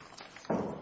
Aarin Nygaard v. Tricia Taylor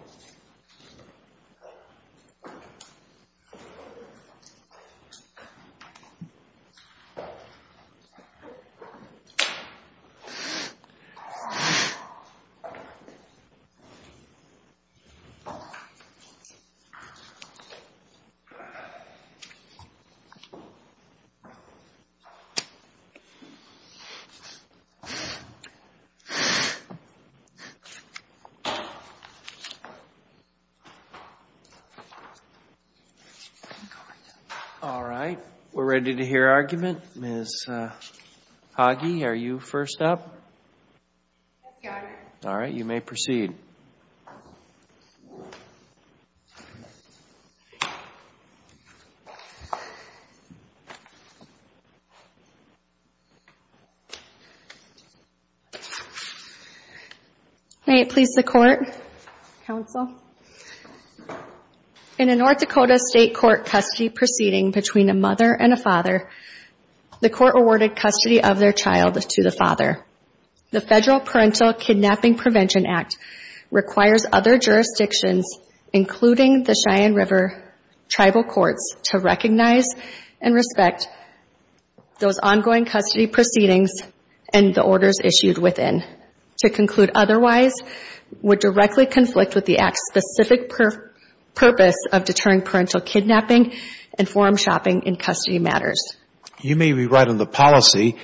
All right, we're ready to hear argument. Ms. Hage, are you first up? Yes, Your Honor. All right, you may proceed. May it please the Court, Counsel? In a North Dakota state court custody proceeding between a mother and a father, the court awarded custody of their child to the father. The Federal Parental Kidnapping Prevention Act requires other jurisdictions, including the Cheyenne River Tribal Courts, to recognize and respect those ongoing custody proceedings and the orders issued within. To conclude otherwise would directly conflict with the Act's specific purpose of deterring parental kidnapping and form shopping in custody matters. You may be right on the policy,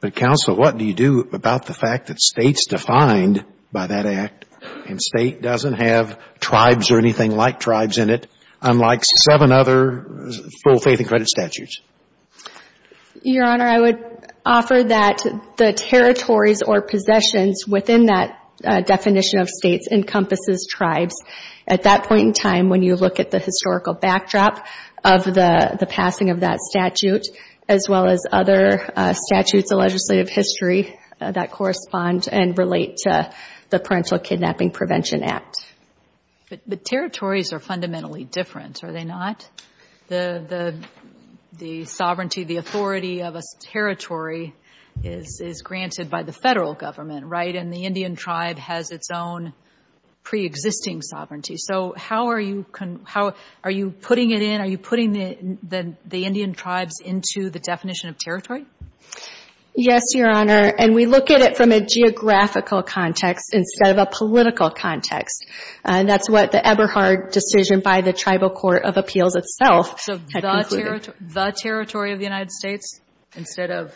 but, Counsel, what do you do about the fact that states defined by that Act, and State doesn't have tribes or anything like tribes in it, unlike seven other full faith and credit statutes? Your Honor, I would offer that the territories or possessions within that definition of states encompasses tribes. At that point in time, when you look at the historical backdrop of the passing of that statute, as well as other statutes of legislative history that correspond and relate to the Parental Kidnapping Prevention Act. But territories are fundamentally different, are they not? The sovereignty, the authority of a territory is granted by the Federal Government, right? And the Indian tribe has its own pre-existing sovereignty. So how are you putting it in? Are you putting the Indian tribes into the definition of territory? Yes, Your Honor. And we look at it from a geographical context instead of a political context. And that's what the Eberhard decision by the Tribal Court of Appeals itself had concluded. So the territory of the United States instead of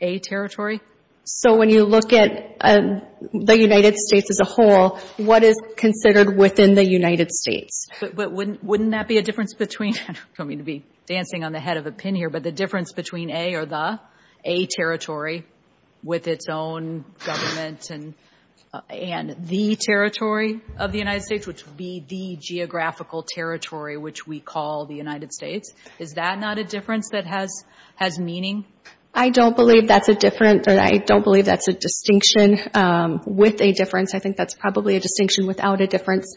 a territory? So when you look at the United States as a whole, what is considered within the United States? But wouldn't that be a difference between, I don't mean to be dancing on the head of a pin here, but the difference between a or the, a territory with its own government and the territory of the United States, which would be the geographical territory which we call the United States. Is that not a difference that has meaning? I don't believe that's a difference, or I don't believe that's a distinction with a difference. I think that's probably a distinction without a difference.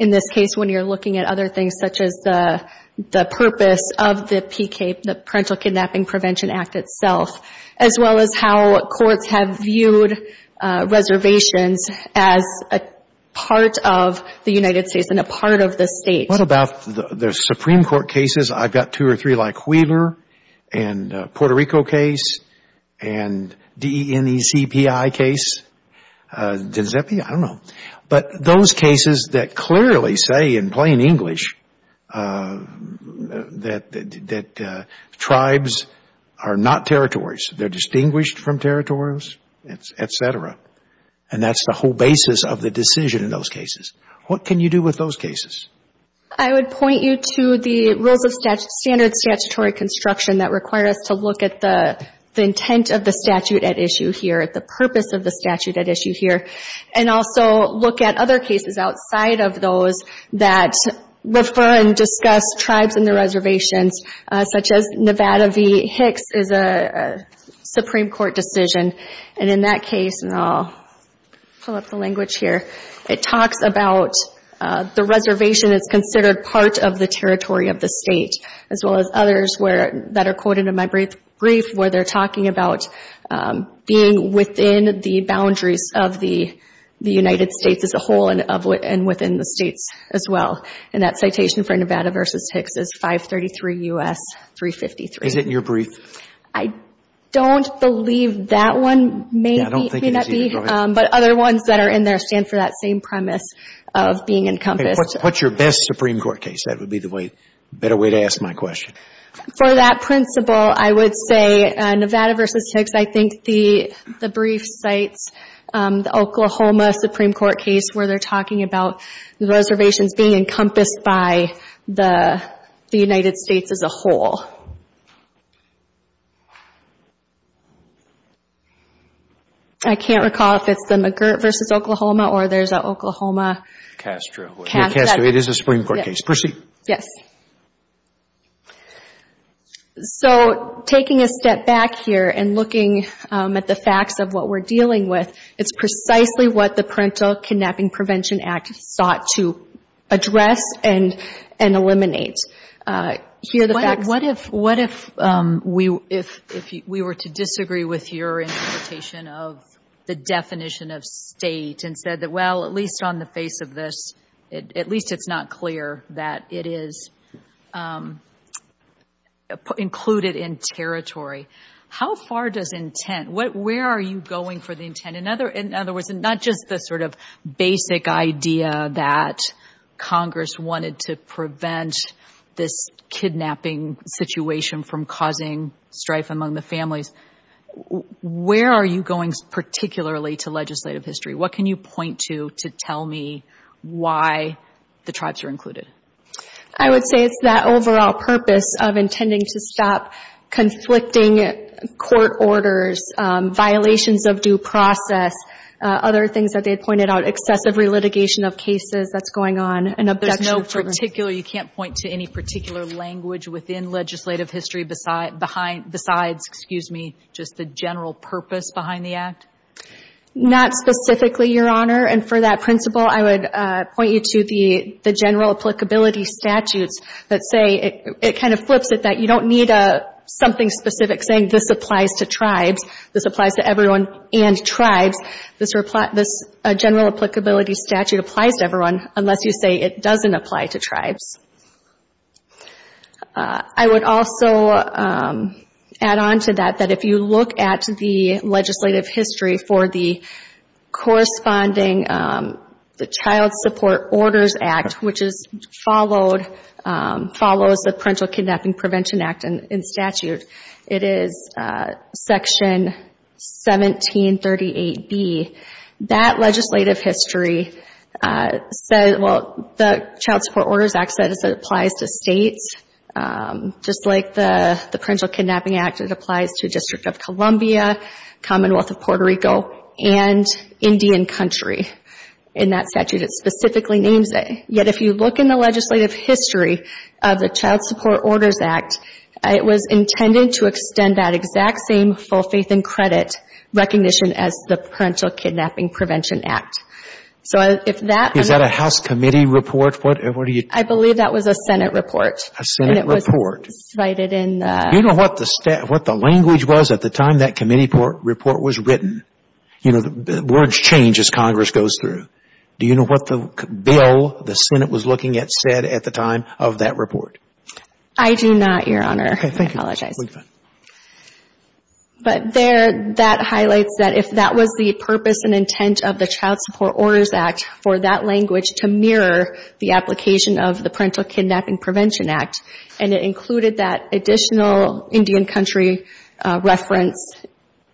In this case, when you're looking at other things such as the purpose of the PK, the Parental Kidnapping Prevention Act itself, as well as how courts have viewed reservations as a part of the United States and a part of the state. What about the Supreme Court cases? I've got two or three like Wheeler and Puerto Rico case and D-E-N-E-C-P-I case. Does that mean? I don't know. But those cases that clearly say in plain English that tribes are not territories. They're distinguished from territories, et cetera. And that's the whole basis of the decision in those cases. What can you do with those cases? I would point you to the Rules of Standard Statutory Construction that require us to look at the intent of the statute at issue here, the purpose of the statute at issue here, and also look at other cases outside of those that refer and discuss tribes and their reservations, such as Nevada v. Hicks is a Supreme Court decision. And in that case, and I'll pull up the language here, it talks about the reservation is considered part of the territory of the state, as well as others that are quoted in my brief where they're talking about being within the boundaries of the United States as a whole and within the states as well. And that citation for Nevada v. Hicks is 533 U.S. 353. Is it in your brief? I don't believe that one may be. Yeah, I don't think it is either. But other ones that are in there stand for that same premise of being encompassed. What's your best Supreme Court case? That would be the better way to ask my question. For that principle, I would say Nevada v. Hicks. I think the brief cites the Oklahoma Supreme Court case where they're talking about the reservations being encompassed by the United States as a whole. I can't recall if it's the McGirt v. Oklahoma or there's an Oklahoma. Castro. Yeah, Castro. It is a Supreme Court case. Proceed. Yes. So taking a step back here and looking at the facts of what we're dealing with, it's precisely what the Parental Kidnapping Prevention Act sought to address and eliminate. Here are the facts. What if the parents of the kidnapped child, What if we were to disagree with your interpretation of the definition of state and said that, well, at least on the face of this, at least it's not clear that it is included in territory. How far does intent, where are you going for the intent? In other words, not just the sort of basic idea that Congress wanted to prevent this kidnapping situation from causing strife among the families. Where are you going particularly to legislative history? What can you point to to tell me why the tribes are included? I would say it's that overall purpose of intending to stop conflicting court orders, violations of due process, other things that they pointed out, excessive relitigation of cases that's going on. There's no particular, you can't point to any particular language within legislative history besides, excuse me, just the general purpose behind the act? Not specifically, Your Honor. And for that principle, I would point you to the general applicability statutes that say it kind of flips it that you don't need something specific saying this applies to tribes. This applies to everyone and tribes. This general applicability statute applies to everyone unless you say it doesn't apply to tribes. I would also add on to that that if you look at the legislative history for the corresponding, the Child Support Orders Act, which is followed, follows the Parental Kidnapping Prevention Act in statute. It is Section 1738B. That legislative history says, well, the Child Support Orders Act says it applies to states. Just like the Parental Kidnapping Act, it applies to District of Columbia, Commonwealth of Puerto Rico, and Indian Country. In that statute it specifically names it. Yet if you look in the legislative history of the Child Support Orders Act, it was intended to extend that exact same full faith and credit recognition as the Parental Kidnapping Prevention Act. Is that a House committee report? I believe that was a Senate report. A Senate report. Do you know what the language was at the time that committee report was written? Words change as Congress goes through. Do you know what the bill the Senate was looking at said at the time of that report? I do not, Your Honor. Okay, thank you. I apologize. But there that highlights that if that was the purpose and intent of the Child Support Orders Act for that language to mirror the application of the Parental Kidnapping Prevention Act, and it included that additional Indian Country reference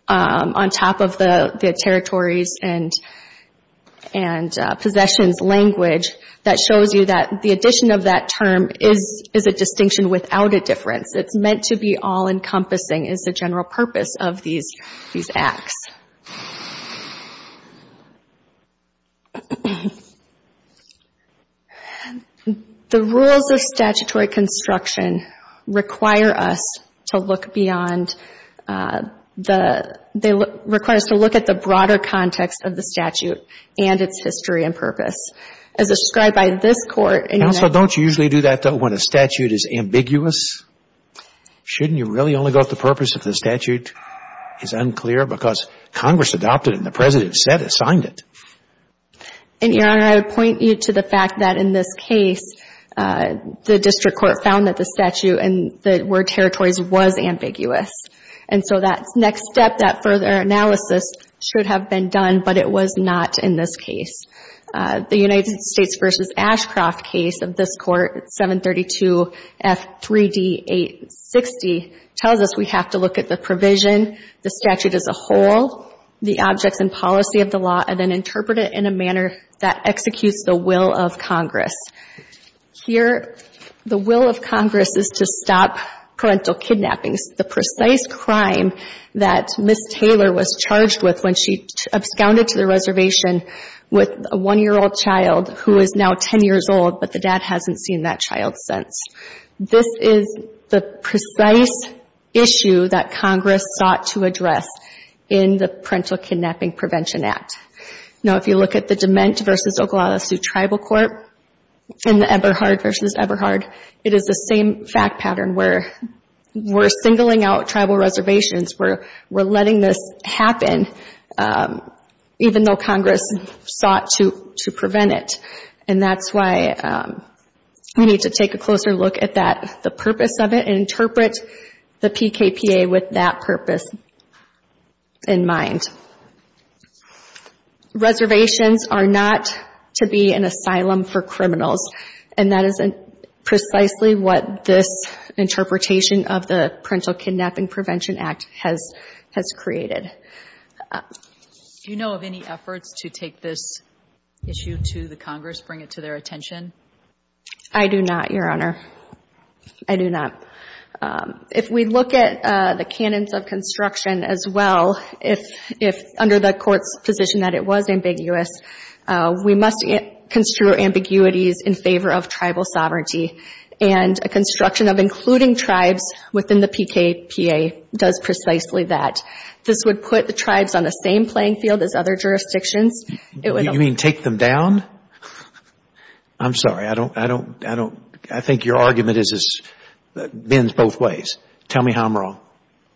on top of the territories and possessions language that shows you that the addition of that term is a distinction without a difference. It's meant to be all-encompassing is the general purpose of these acts. The rules of statutory construction require us to look beyond the – they require us to look at the broader context of the statute and its history and purpose. As described by this Court in your next – Counsel, don't you usually do that when a statute is ambiguous? Shouldn't you really only go with the purpose if the statute is unclear? Because Congress adopted it and the President said it, signed it. And, Your Honor, I would point you to the fact that in this case, the District Court found that the statute and the word territories was ambiguous. And so that next step, that further analysis should have been done, but it was not in this case. The United States v. Ashcroft case of this Court, 732 F. 3D. 860, tells us we have to look at the provision, the statute as a whole, the objects and policy of the law, and then interpret it in a manner that executes the will of Congress. Here, the will of Congress is to stop parental kidnappings, the precise crime that Ms. Taylor was charged with when she absconded to the reservation with a one-year-old child who is now 10 years old, but the dad hasn't seen that child since. This is the precise issue that Congress sought to address in the Parental Kidnapping Prevention Act. Now, if you look at the Dement v. Oglala Sioux Tribal Court and the Eberhard v. Eberhard, it is the same fact pattern where we're singling out tribal reservations, we're letting this happen even though Congress sought to prevent it. And that's why we need to take a closer look at that, the purpose of it, and interpret the PKPA with that purpose in mind. Reservations are not to be an asylum for criminals, and that is precisely what this interpretation of the Parental Kidnapping Prevention Act has created. Do you know of any efforts to take this issue to the Congress, bring it to their attention? I do not, Your Honor. I do not. If we look at the canons of construction as well, if under the Court's position that it was ambiguous, we must construe ambiguities in favor of tribal sovereignty, and a construction of including tribes within the PKPA does precisely that. This would put the tribes on the same playing field as other jurisdictions. You mean take them down? I'm sorry. I think your argument bends both ways. Tell me how I'm wrong.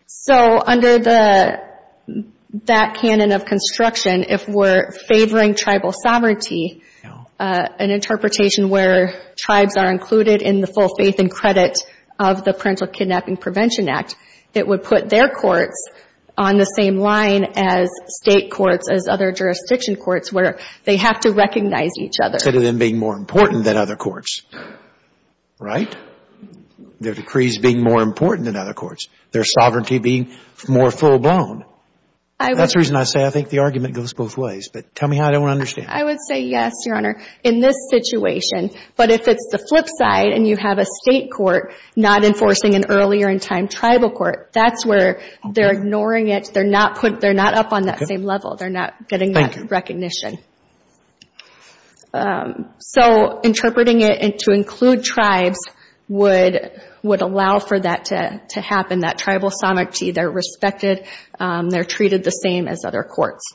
So under that canon of construction, if we're favoring tribal sovereignty, an interpretation where tribes are included in the full faith and credit of the Parental Kidnapping Prevention Act, it would put their courts on the same line as state courts, as other jurisdiction courts, where they have to recognize each other. Instead of them being more important than other courts, right? Their decrees being more important than other courts, their sovereignty being more full-blown. That's the reason I say I think the argument goes both ways, but tell me how I don't understand. I would say yes, Your Honor, in this situation. But if it's the flip side and you have a state court not enforcing an earlier-in-time tribal court, that's where they're ignoring it. They're not up on that same level. They're not getting that recognition. So interpreting it to include tribes would allow for that to happen, that tribal sovereignty. They're respected. They're treated the same as other courts.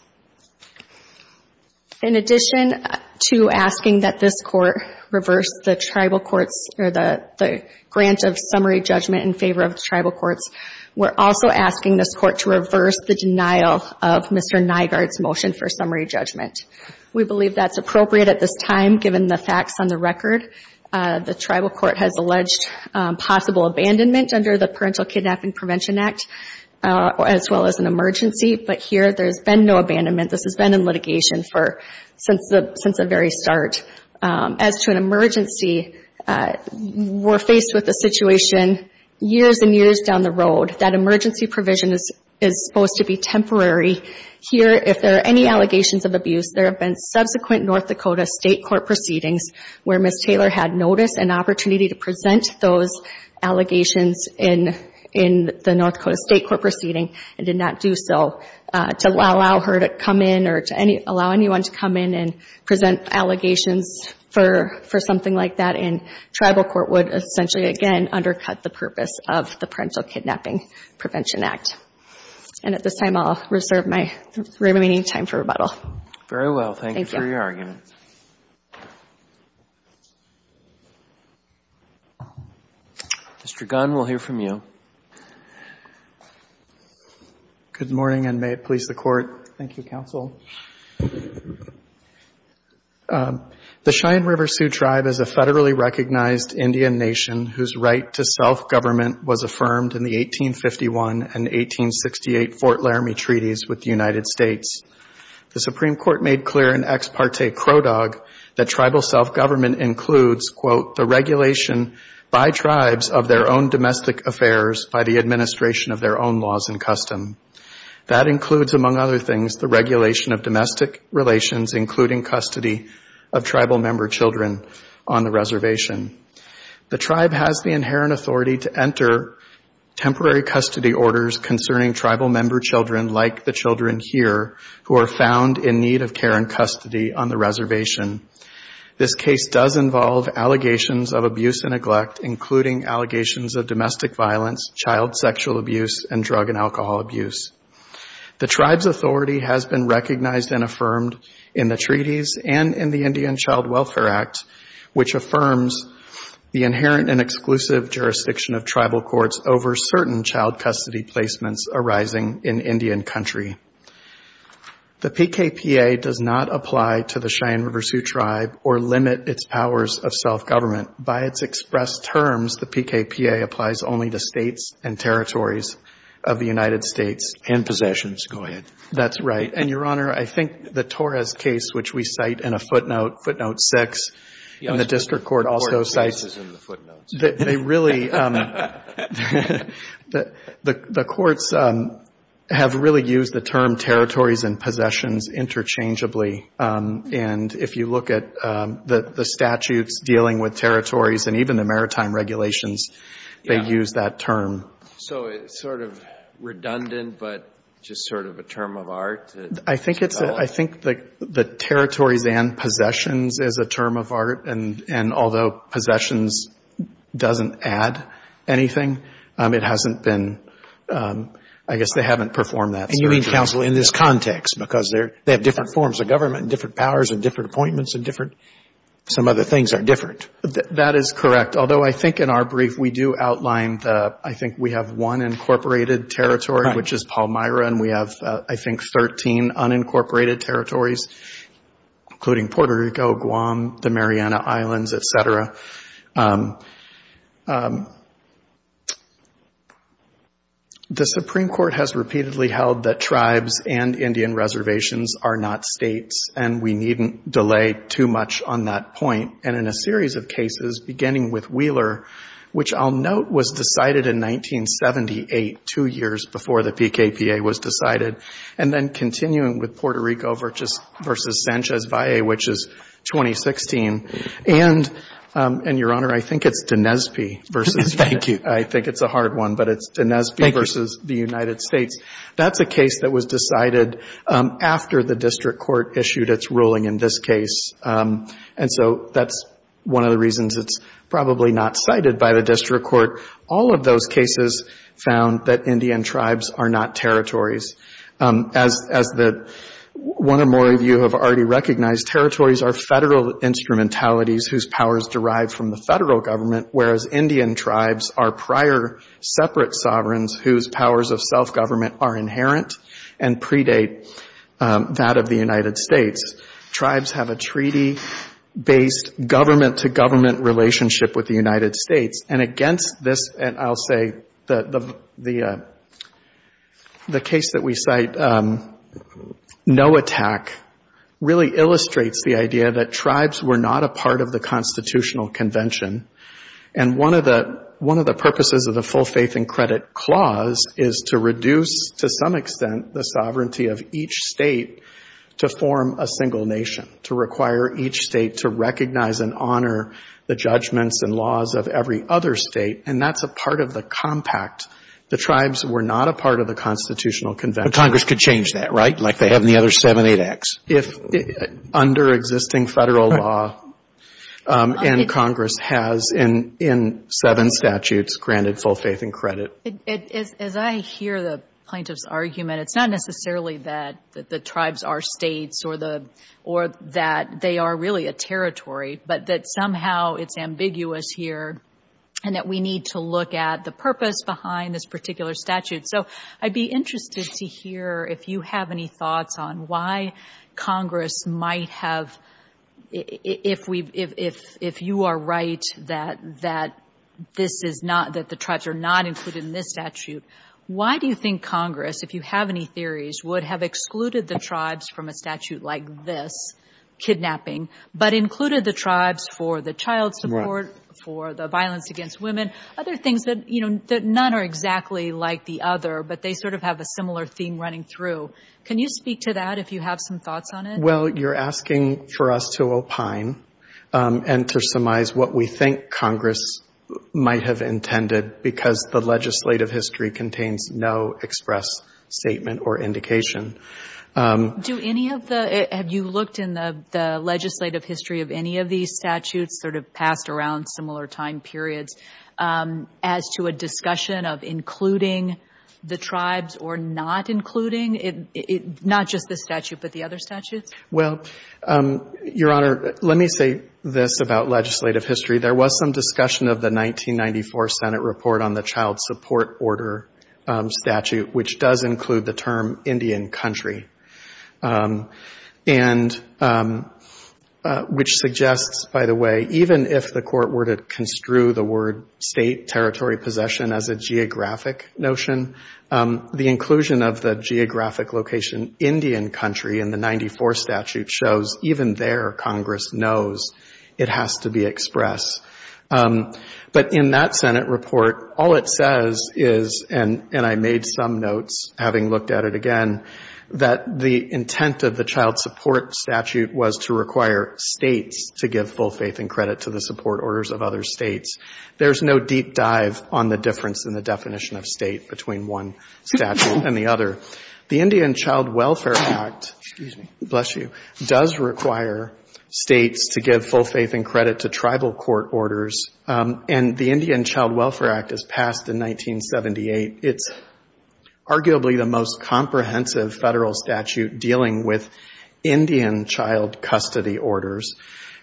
In addition to asking that this court reverse the tribal courts or the grant of summary judgment in favor of the tribal courts, we're also asking this court to reverse the denial of Mr. Nygaard's motion for summary judgment. We believe that's appropriate at this time, given the facts on the record. The tribal court has alleged possible abandonment under the Parental Kidnapping Prevention Act, as well as an emergency. But here there's been no abandonment. This has been in litigation since the very start. As to an emergency, we're faced with a situation years and years down the road. That emergency provision is supposed to be temporary. Here, if there are any allegations of abuse, there have been subsequent North Dakota state court proceedings where Ms. Taylor had notice and opportunity to present those allegations in the North Dakota state court proceeding, and did not do so to allow her to come in or to allow anyone to come in and present allegations for something like that. Tribal court would essentially, again, undercut the purpose of the Parental Kidnapping Prevention Act. At this time, I'll reserve my remaining time for rebuttal. Very well. Thank you for your argument. Thank you. Mr. Gunn, we'll hear from you. Good morning, and may it please the Court. Thank you, Counsel. The Cheyenne River Sioux Tribe is a federally recognized Indian nation whose right to self-government was affirmed in the 1851 and 1868 Fort Laramie Treaties with the United States. The Supreme Court made clear in Ex Parte Cro-Dog that tribal self-government includes, quote, the regulation by tribes of their own domestic affairs by the administration of their own laws and custom. That includes, among other things, the regulation of domestic relations, including custody of tribal member children on the reservation. The tribe has the inherent authority to enter temporary custody orders concerning tribal member children, like the children here, who are found in need of care and custody on the reservation. This case does involve allegations of abuse and neglect, including allegations of domestic violence, child sexual abuse, and drug and alcohol abuse. The tribe's authority has been recognized and affirmed in the treaties and in the Indian Child Welfare Act, which affirms the inherent and exclusive jurisdiction of tribal courts over certain child custody placements arising in Indian country. The PKPA does not apply to the Cheyenne River Sioux tribe or limit its powers of self-government. By its express terms, the PKPA applies only to states and territories of the United States. And possessions. Go ahead. That's right. And, Your Honor, I think the Torres case, which we cite in a footnote, footnote six, and the district court also cites the footnotes, they really, the courts have really used the term territories and possessions interchangeably. And if you look at the statutes dealing with territories and even the maritime regulations, they use that term. So it's sort of redundant, but just sort of a term of art. I think it's, I think the territories and possessions is a term of art, and although possessions doesn't add anything, it hasn't been, I guess they haven't performed that. And you mean, counsel, in this context? Because they have different forms of government and different powers and different appointments and different, some other things are different. That is correct. Although I think in our brief we do outline, I think we have one incorporated territory, which is Palmyra, and we have, I think, 13 unincorporated territories, including Puerto Rico, Guam, the Mariana Islands, et cetera. The Supreme Court has repeatedly held that tribes and Indian reservations are not states, and we needn't delay too much on that point. And in a series of cases, beginning with Wheeler, which I'll note was decided in 1978, two years before the PKPA was decided, and then continuing with Puerto Rico versus Sanchez Valle, which is 2016, and, Your Honor, I think it's D'Nespy versus, I think it's a hard one, but it's D'Nespy versus the United States. That's a case that was decided after the district court issued its ruling in this case, and so that's one of the reasons it's probably not cited by the district court. All of those cases found that Indian tribes are not territories. As one or more of you have already recognized, territories are federal instrumentalities whose powers derive from the federal government, whereas Indian tribes are prior separate sovereigns whose powers of self-government are inherent and predate that of the United States. Tribes have a treaty-based government-to-government relationship with the United States, and against this, I'll say, the case that we cite, no attack, really illustrates the idea that tribes were not a part of the constitutional convention, and one of the purposes of the full faith and credit clause is to reduce, to some extent, the sovereignty of each state to form a single nation, to require each state to recognize and honor the judgments and laws of every other state, and that's a part of the compact. The tribes were not a part of the constitutional convention. But Congress could change that, right, like they have in the other 7-8 acts? Under existing federal law, and Congress has in seven statutes granted full faith and credit. As I hear the plaintiff's argument, it's not necessarily that the tribes are states or that they are really a territory, but that somehow it's ambiguous here and that we need to look at the purpose behind this particular statute. So I'd be interested to hear if you have any thoughts on why Congress might have, if you are right that the tribes are not included in this statute, why do you think Congress, if you have any theories, would have excluded the tribes from a statute like this, kidnapping, but included the tribes for the child support, for the violence against women, other things that, you know, that none are exactly like the other, but they sort of have a similar theme running through. Can you speak to that if you have some thoughts on it? Well, you're asking for us to opine and to surmise what we think Congress might have intended because the legislative history contains no express statement or indication. Do any of the, have you looked in the legislative history of any of these statutes, sort of passed around similar time periods, as to a discussion of including the tribes or not including, not just the statute, but the other statutes? Well, Your Honor, let me say this about legislative history. There was some discussion of the 1994 Senate report on the child support order statute, which does include the term Indian country. And which suggests, by the way, even if the court were to construe the word state territory possession as a geographic notion, the inclusion of the geographic location Indian country in the 94 statute shows, even there Congress knows it has to be expressed. But in that Senate report, all it says is, and I made some notes having looked at it again, that the intent of the child support statute was to require states to give full faith and credit to the support orders of other states. There's no deep dive on the difference in the definition of state between one statute and the other. The Indian Child Welfare Act, excuse me, bless you, does require states to give full faith and credit to tribal court orders. And the Indian Child Welfare Act is passed in 1978. It's arguably the most comprehensive federal statute dealing with Indian child custody orders.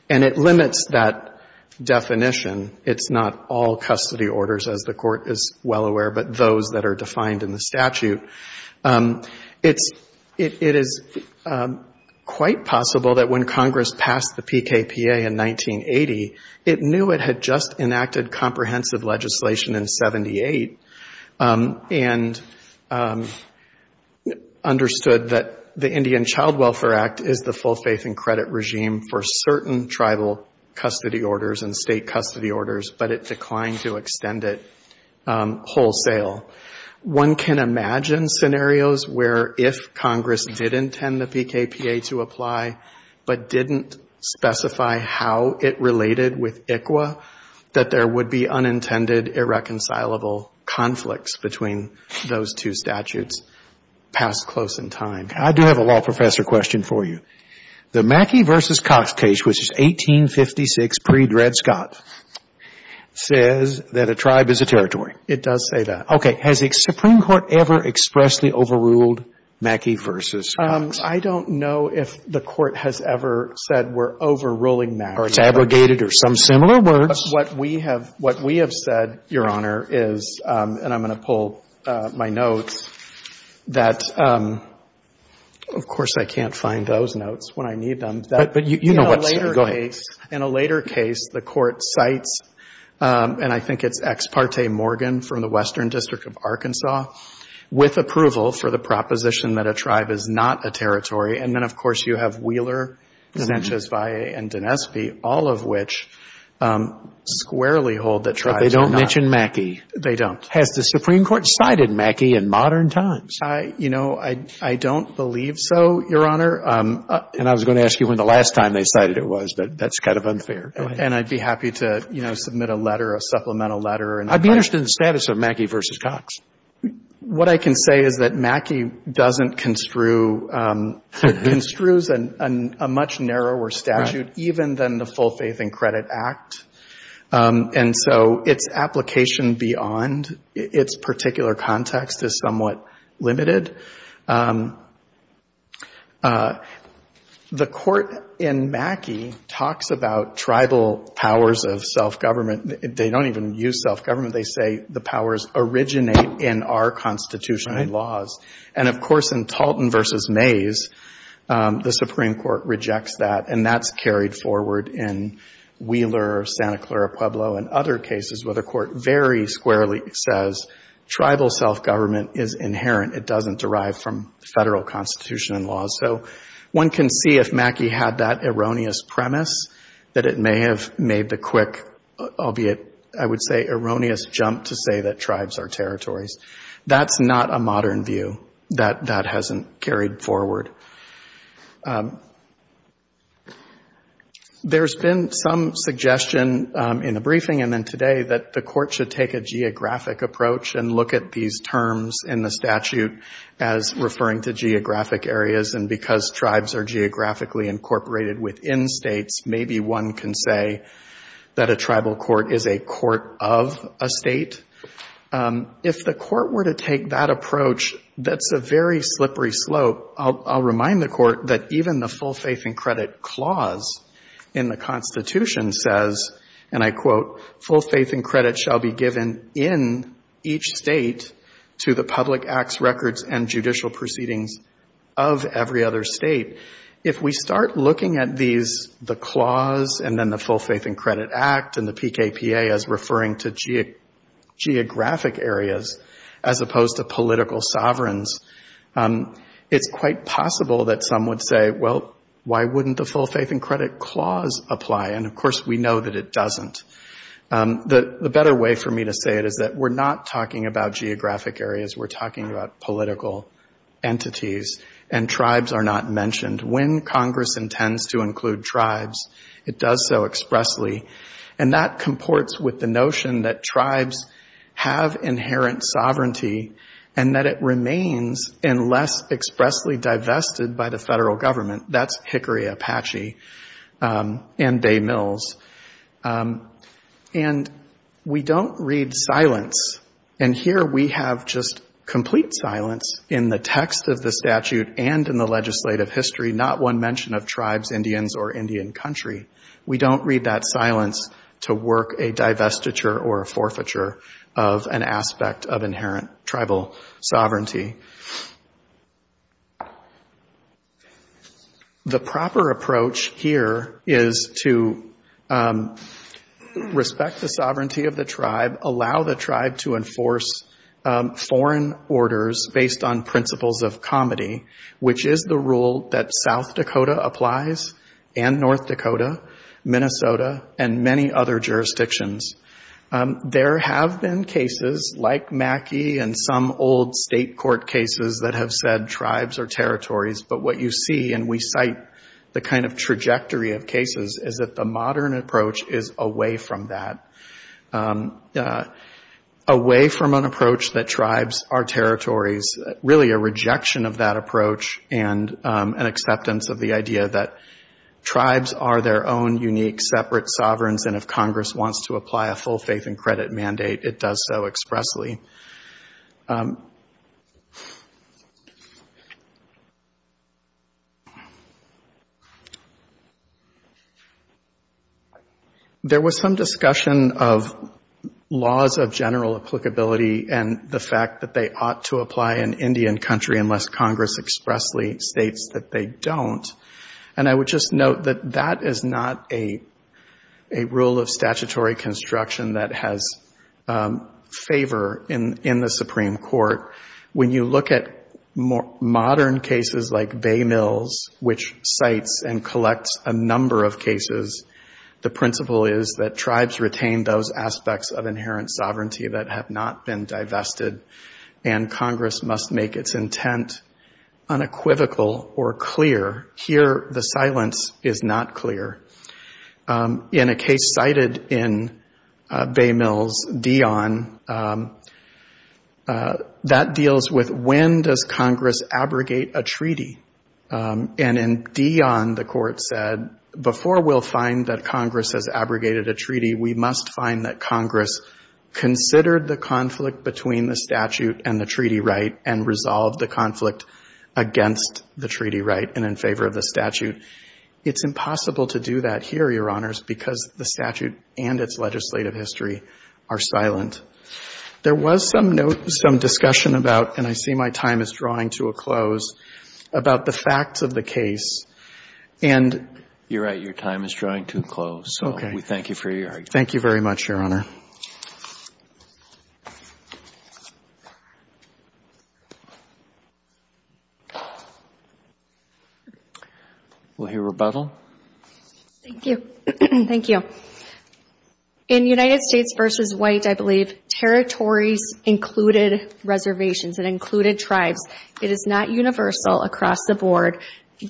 And it limits that definition. It's not all custody orders, as the court is well aware, but those that are defined in the statute. It is quite possible that when Congress passed the PKPA in 1980, it knew it had just enacted comprehensive legislation in 78 and understood that the Indian Child Welfare Act is the full faith and credit regime for certain tribal custody orders and state custody orders, but it declined to extend it wholesale. One can imagine scenarios where if Congress did intend the PKPA to apply, but didn't specify how it related with ICWA, that there would be unintended irreconcilable conflicts between those two statutes passed close in time. I do have a law professor question for you. The Mackey v. Cox case, which is 1856, pre-Dred Scott, says that a tribe is a territory. It does say that. Okay. Has the Supreme Court ever expressly overruled Mackey v. Cox? I don't know if the Court has ever said we're overruling Mackey. Or it's abrogated or some similar words. What we have said, Your Honor, is, and I'm going to pull my notes, that, of course, I can't find those notes when I need them. But you know what's, go ahead. In a later case, the Court cites, and I think it's Ex parte Morgan from the Western District of Arkansas, with approval for the proposition that a tribe is not a territory. And then, of course, you have Wheeler, Sanchez, Valle, and Dinespy, all of which squarely hold that tribes are not. But they don't mention Mackey. They don't. Has the Supreme Court cited Mackey in modern times? You know, I don't believe so, Your Honor. And I was going to ask you when the last time they cited it was, but that's kind of unfair. Go ahead. And I'd be happy to, you know, submit a letter, a supplemental letter. I'd be interested in the status of Mackey v. Cox. What I can say is that Mackey doesn't construe, construes a much narrower statute, even than the Full Faith and Credit Act. And so its application beyond its particular context is somewhat limited. The Court in Mackey talks about tribal powers of self-government. They don't even use self-government. They say the powers originate in our constitutional laws. And, of course, in Talton v. Mays, the Supreme Court rejects that, and that's carried forward in Wheeler, Santa Clara, Pueblo, and other cases where the Court very squarely says tribal self-government is inherent. It doesn't derive from federal constitution and laws. So one can see if Mackey had that erroneous premise that it may have made the quick, albeit I would say erroneous, jump to say that tribes are territories. That's not a modern view. That hasn't carried forward. There's been some suggestion in the briefing and then today that the Court should take a geographic approach and look at these terms in the statute as referring to geographic areas, and because tribes are geographically incorporated within states, maybe one can say that a tribal court is a court of a state. If the Court were to take that approach, that's a very slippery slope. I'll remind the Court that even the full faith and credit clause in the Constitution says, and I quote, full faith and credit shall be given in each state to the public acts, records, and judicial proceedings of every other state. If we start looking at these, the clause and then the full faith and credit act and the PKPA as referring to geographic areas as opposed to political sovereigns, it's quite possible that some would say, well, why wouldn't the full faith and credit clause apply? And, of course, we know that it doesn't. The better way for me to say it is that we're not talking about geographic areas. We're talking about political entities, and tribes are not mentioned. When Congress intends to include tribes, it does so expressly, and that comports with the notion that tribes have inherent sovereignty and that it remains unless expressly divested by the federal government. That's Hickory, Apache, and Bay Mills. And we don't read silence, and here we have just complete silence in the text of the statute and in the legislative history, not one mention of tribes, Indians, or Indian country. We don't read that silence to work a divestiture or a forfeiture of an aspect of inherent tribal sovereignty. The proper approach here is to respect the sovereignty of the tribe, allow the tribe to enforce foreign orders based on principles of comity, which is the rule that South Dakota applies and North Dakota, Minnesota, and many other jurisdictions. There have been cases like Mackey and some old state court cases that have said tribes are territories, but what you see, and we cite the kind of trajectory of cases, is that the modern approach is away from that, away from an approach that tribes are territories, really a rejection of that approach and an acceptance of the idea that tribes are their own unique separate sovereigns, and if Congress wants to apply a full faith and credit mandate, it does so expressly. There was some discussion of laws of general applicability and the fact that they ought to apply in Indian country unless Congress expressly states that they don't, and I would just note that that is not a rule of statutory construction that has favor in the Supreme Court. When you look at modern cases like Bay Mills, which cites and collects a number of cases, the principle is that tribes retain those aspects of inherent sovereignty that have not been divested, and Congress must make its intent unequivocal or clear. Here the silence is not clear. In a case cited in Bay Mills, Dion, that deals with when does Congress abrogate a treaty, and in Dion the court said before we'll find that Congress has abrogated a treaty, we must find that Congress considered the conflict between the statute and the treaty right and resolved the conflict against the treaty right and in favor of the statute. It's impossible to do that here, Your Honors, because the statute and its legislative history are silent. There was some note, some discussion about, and I see my time is drawing to a close, about the facts of the case, and you're right, your time is drawing to a close. So we thank you for your argument. Thank you very much, Your Honor. We'll hear rebuttal. Thank you. Thank you. In United States v. White, I believe territories included reservations and included tribes. It is not universal across the board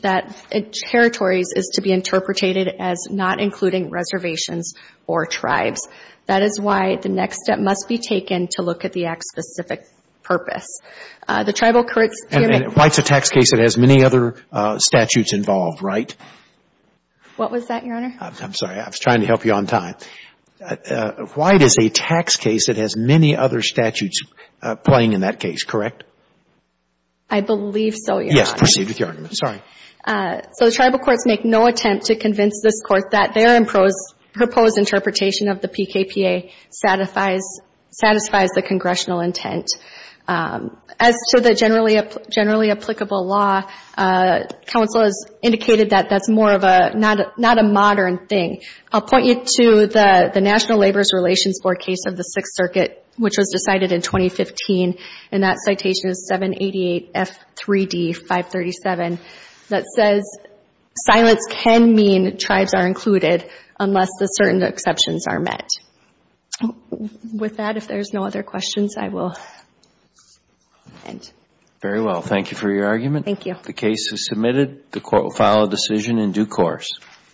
that territories is to be interpreted as not including reservations or tribes. That is why the next step must be taken to look at the act's specific purpose. White's a tax case that has many other statutes involved, right? What was that, Your Honor? I'm sorry. I was trying to help you on time. White is a tax case that has many other statutes playing in that case, correct? I believe so, Your Honor. Yes. Proceed with your argument. Sorry. So the tribal courts make no attempt to convince this Court that their proposed interpretation of the PKPA satisfies the congressional intent. As to the generally applicable law, counsel has indicated that that's more of not a modern thing. I'll point you to the National Labor Relations Board case of the Sixth Circuit, which was decided in 2015, and that citation is 788F3D537 that says silence can mean tribes are included unless the certain exceptions are met. With that, if there's no other questions, I will end. Very well. Thank you for your argument. Thank you. The case is submitted. The Court will file a decision in due course.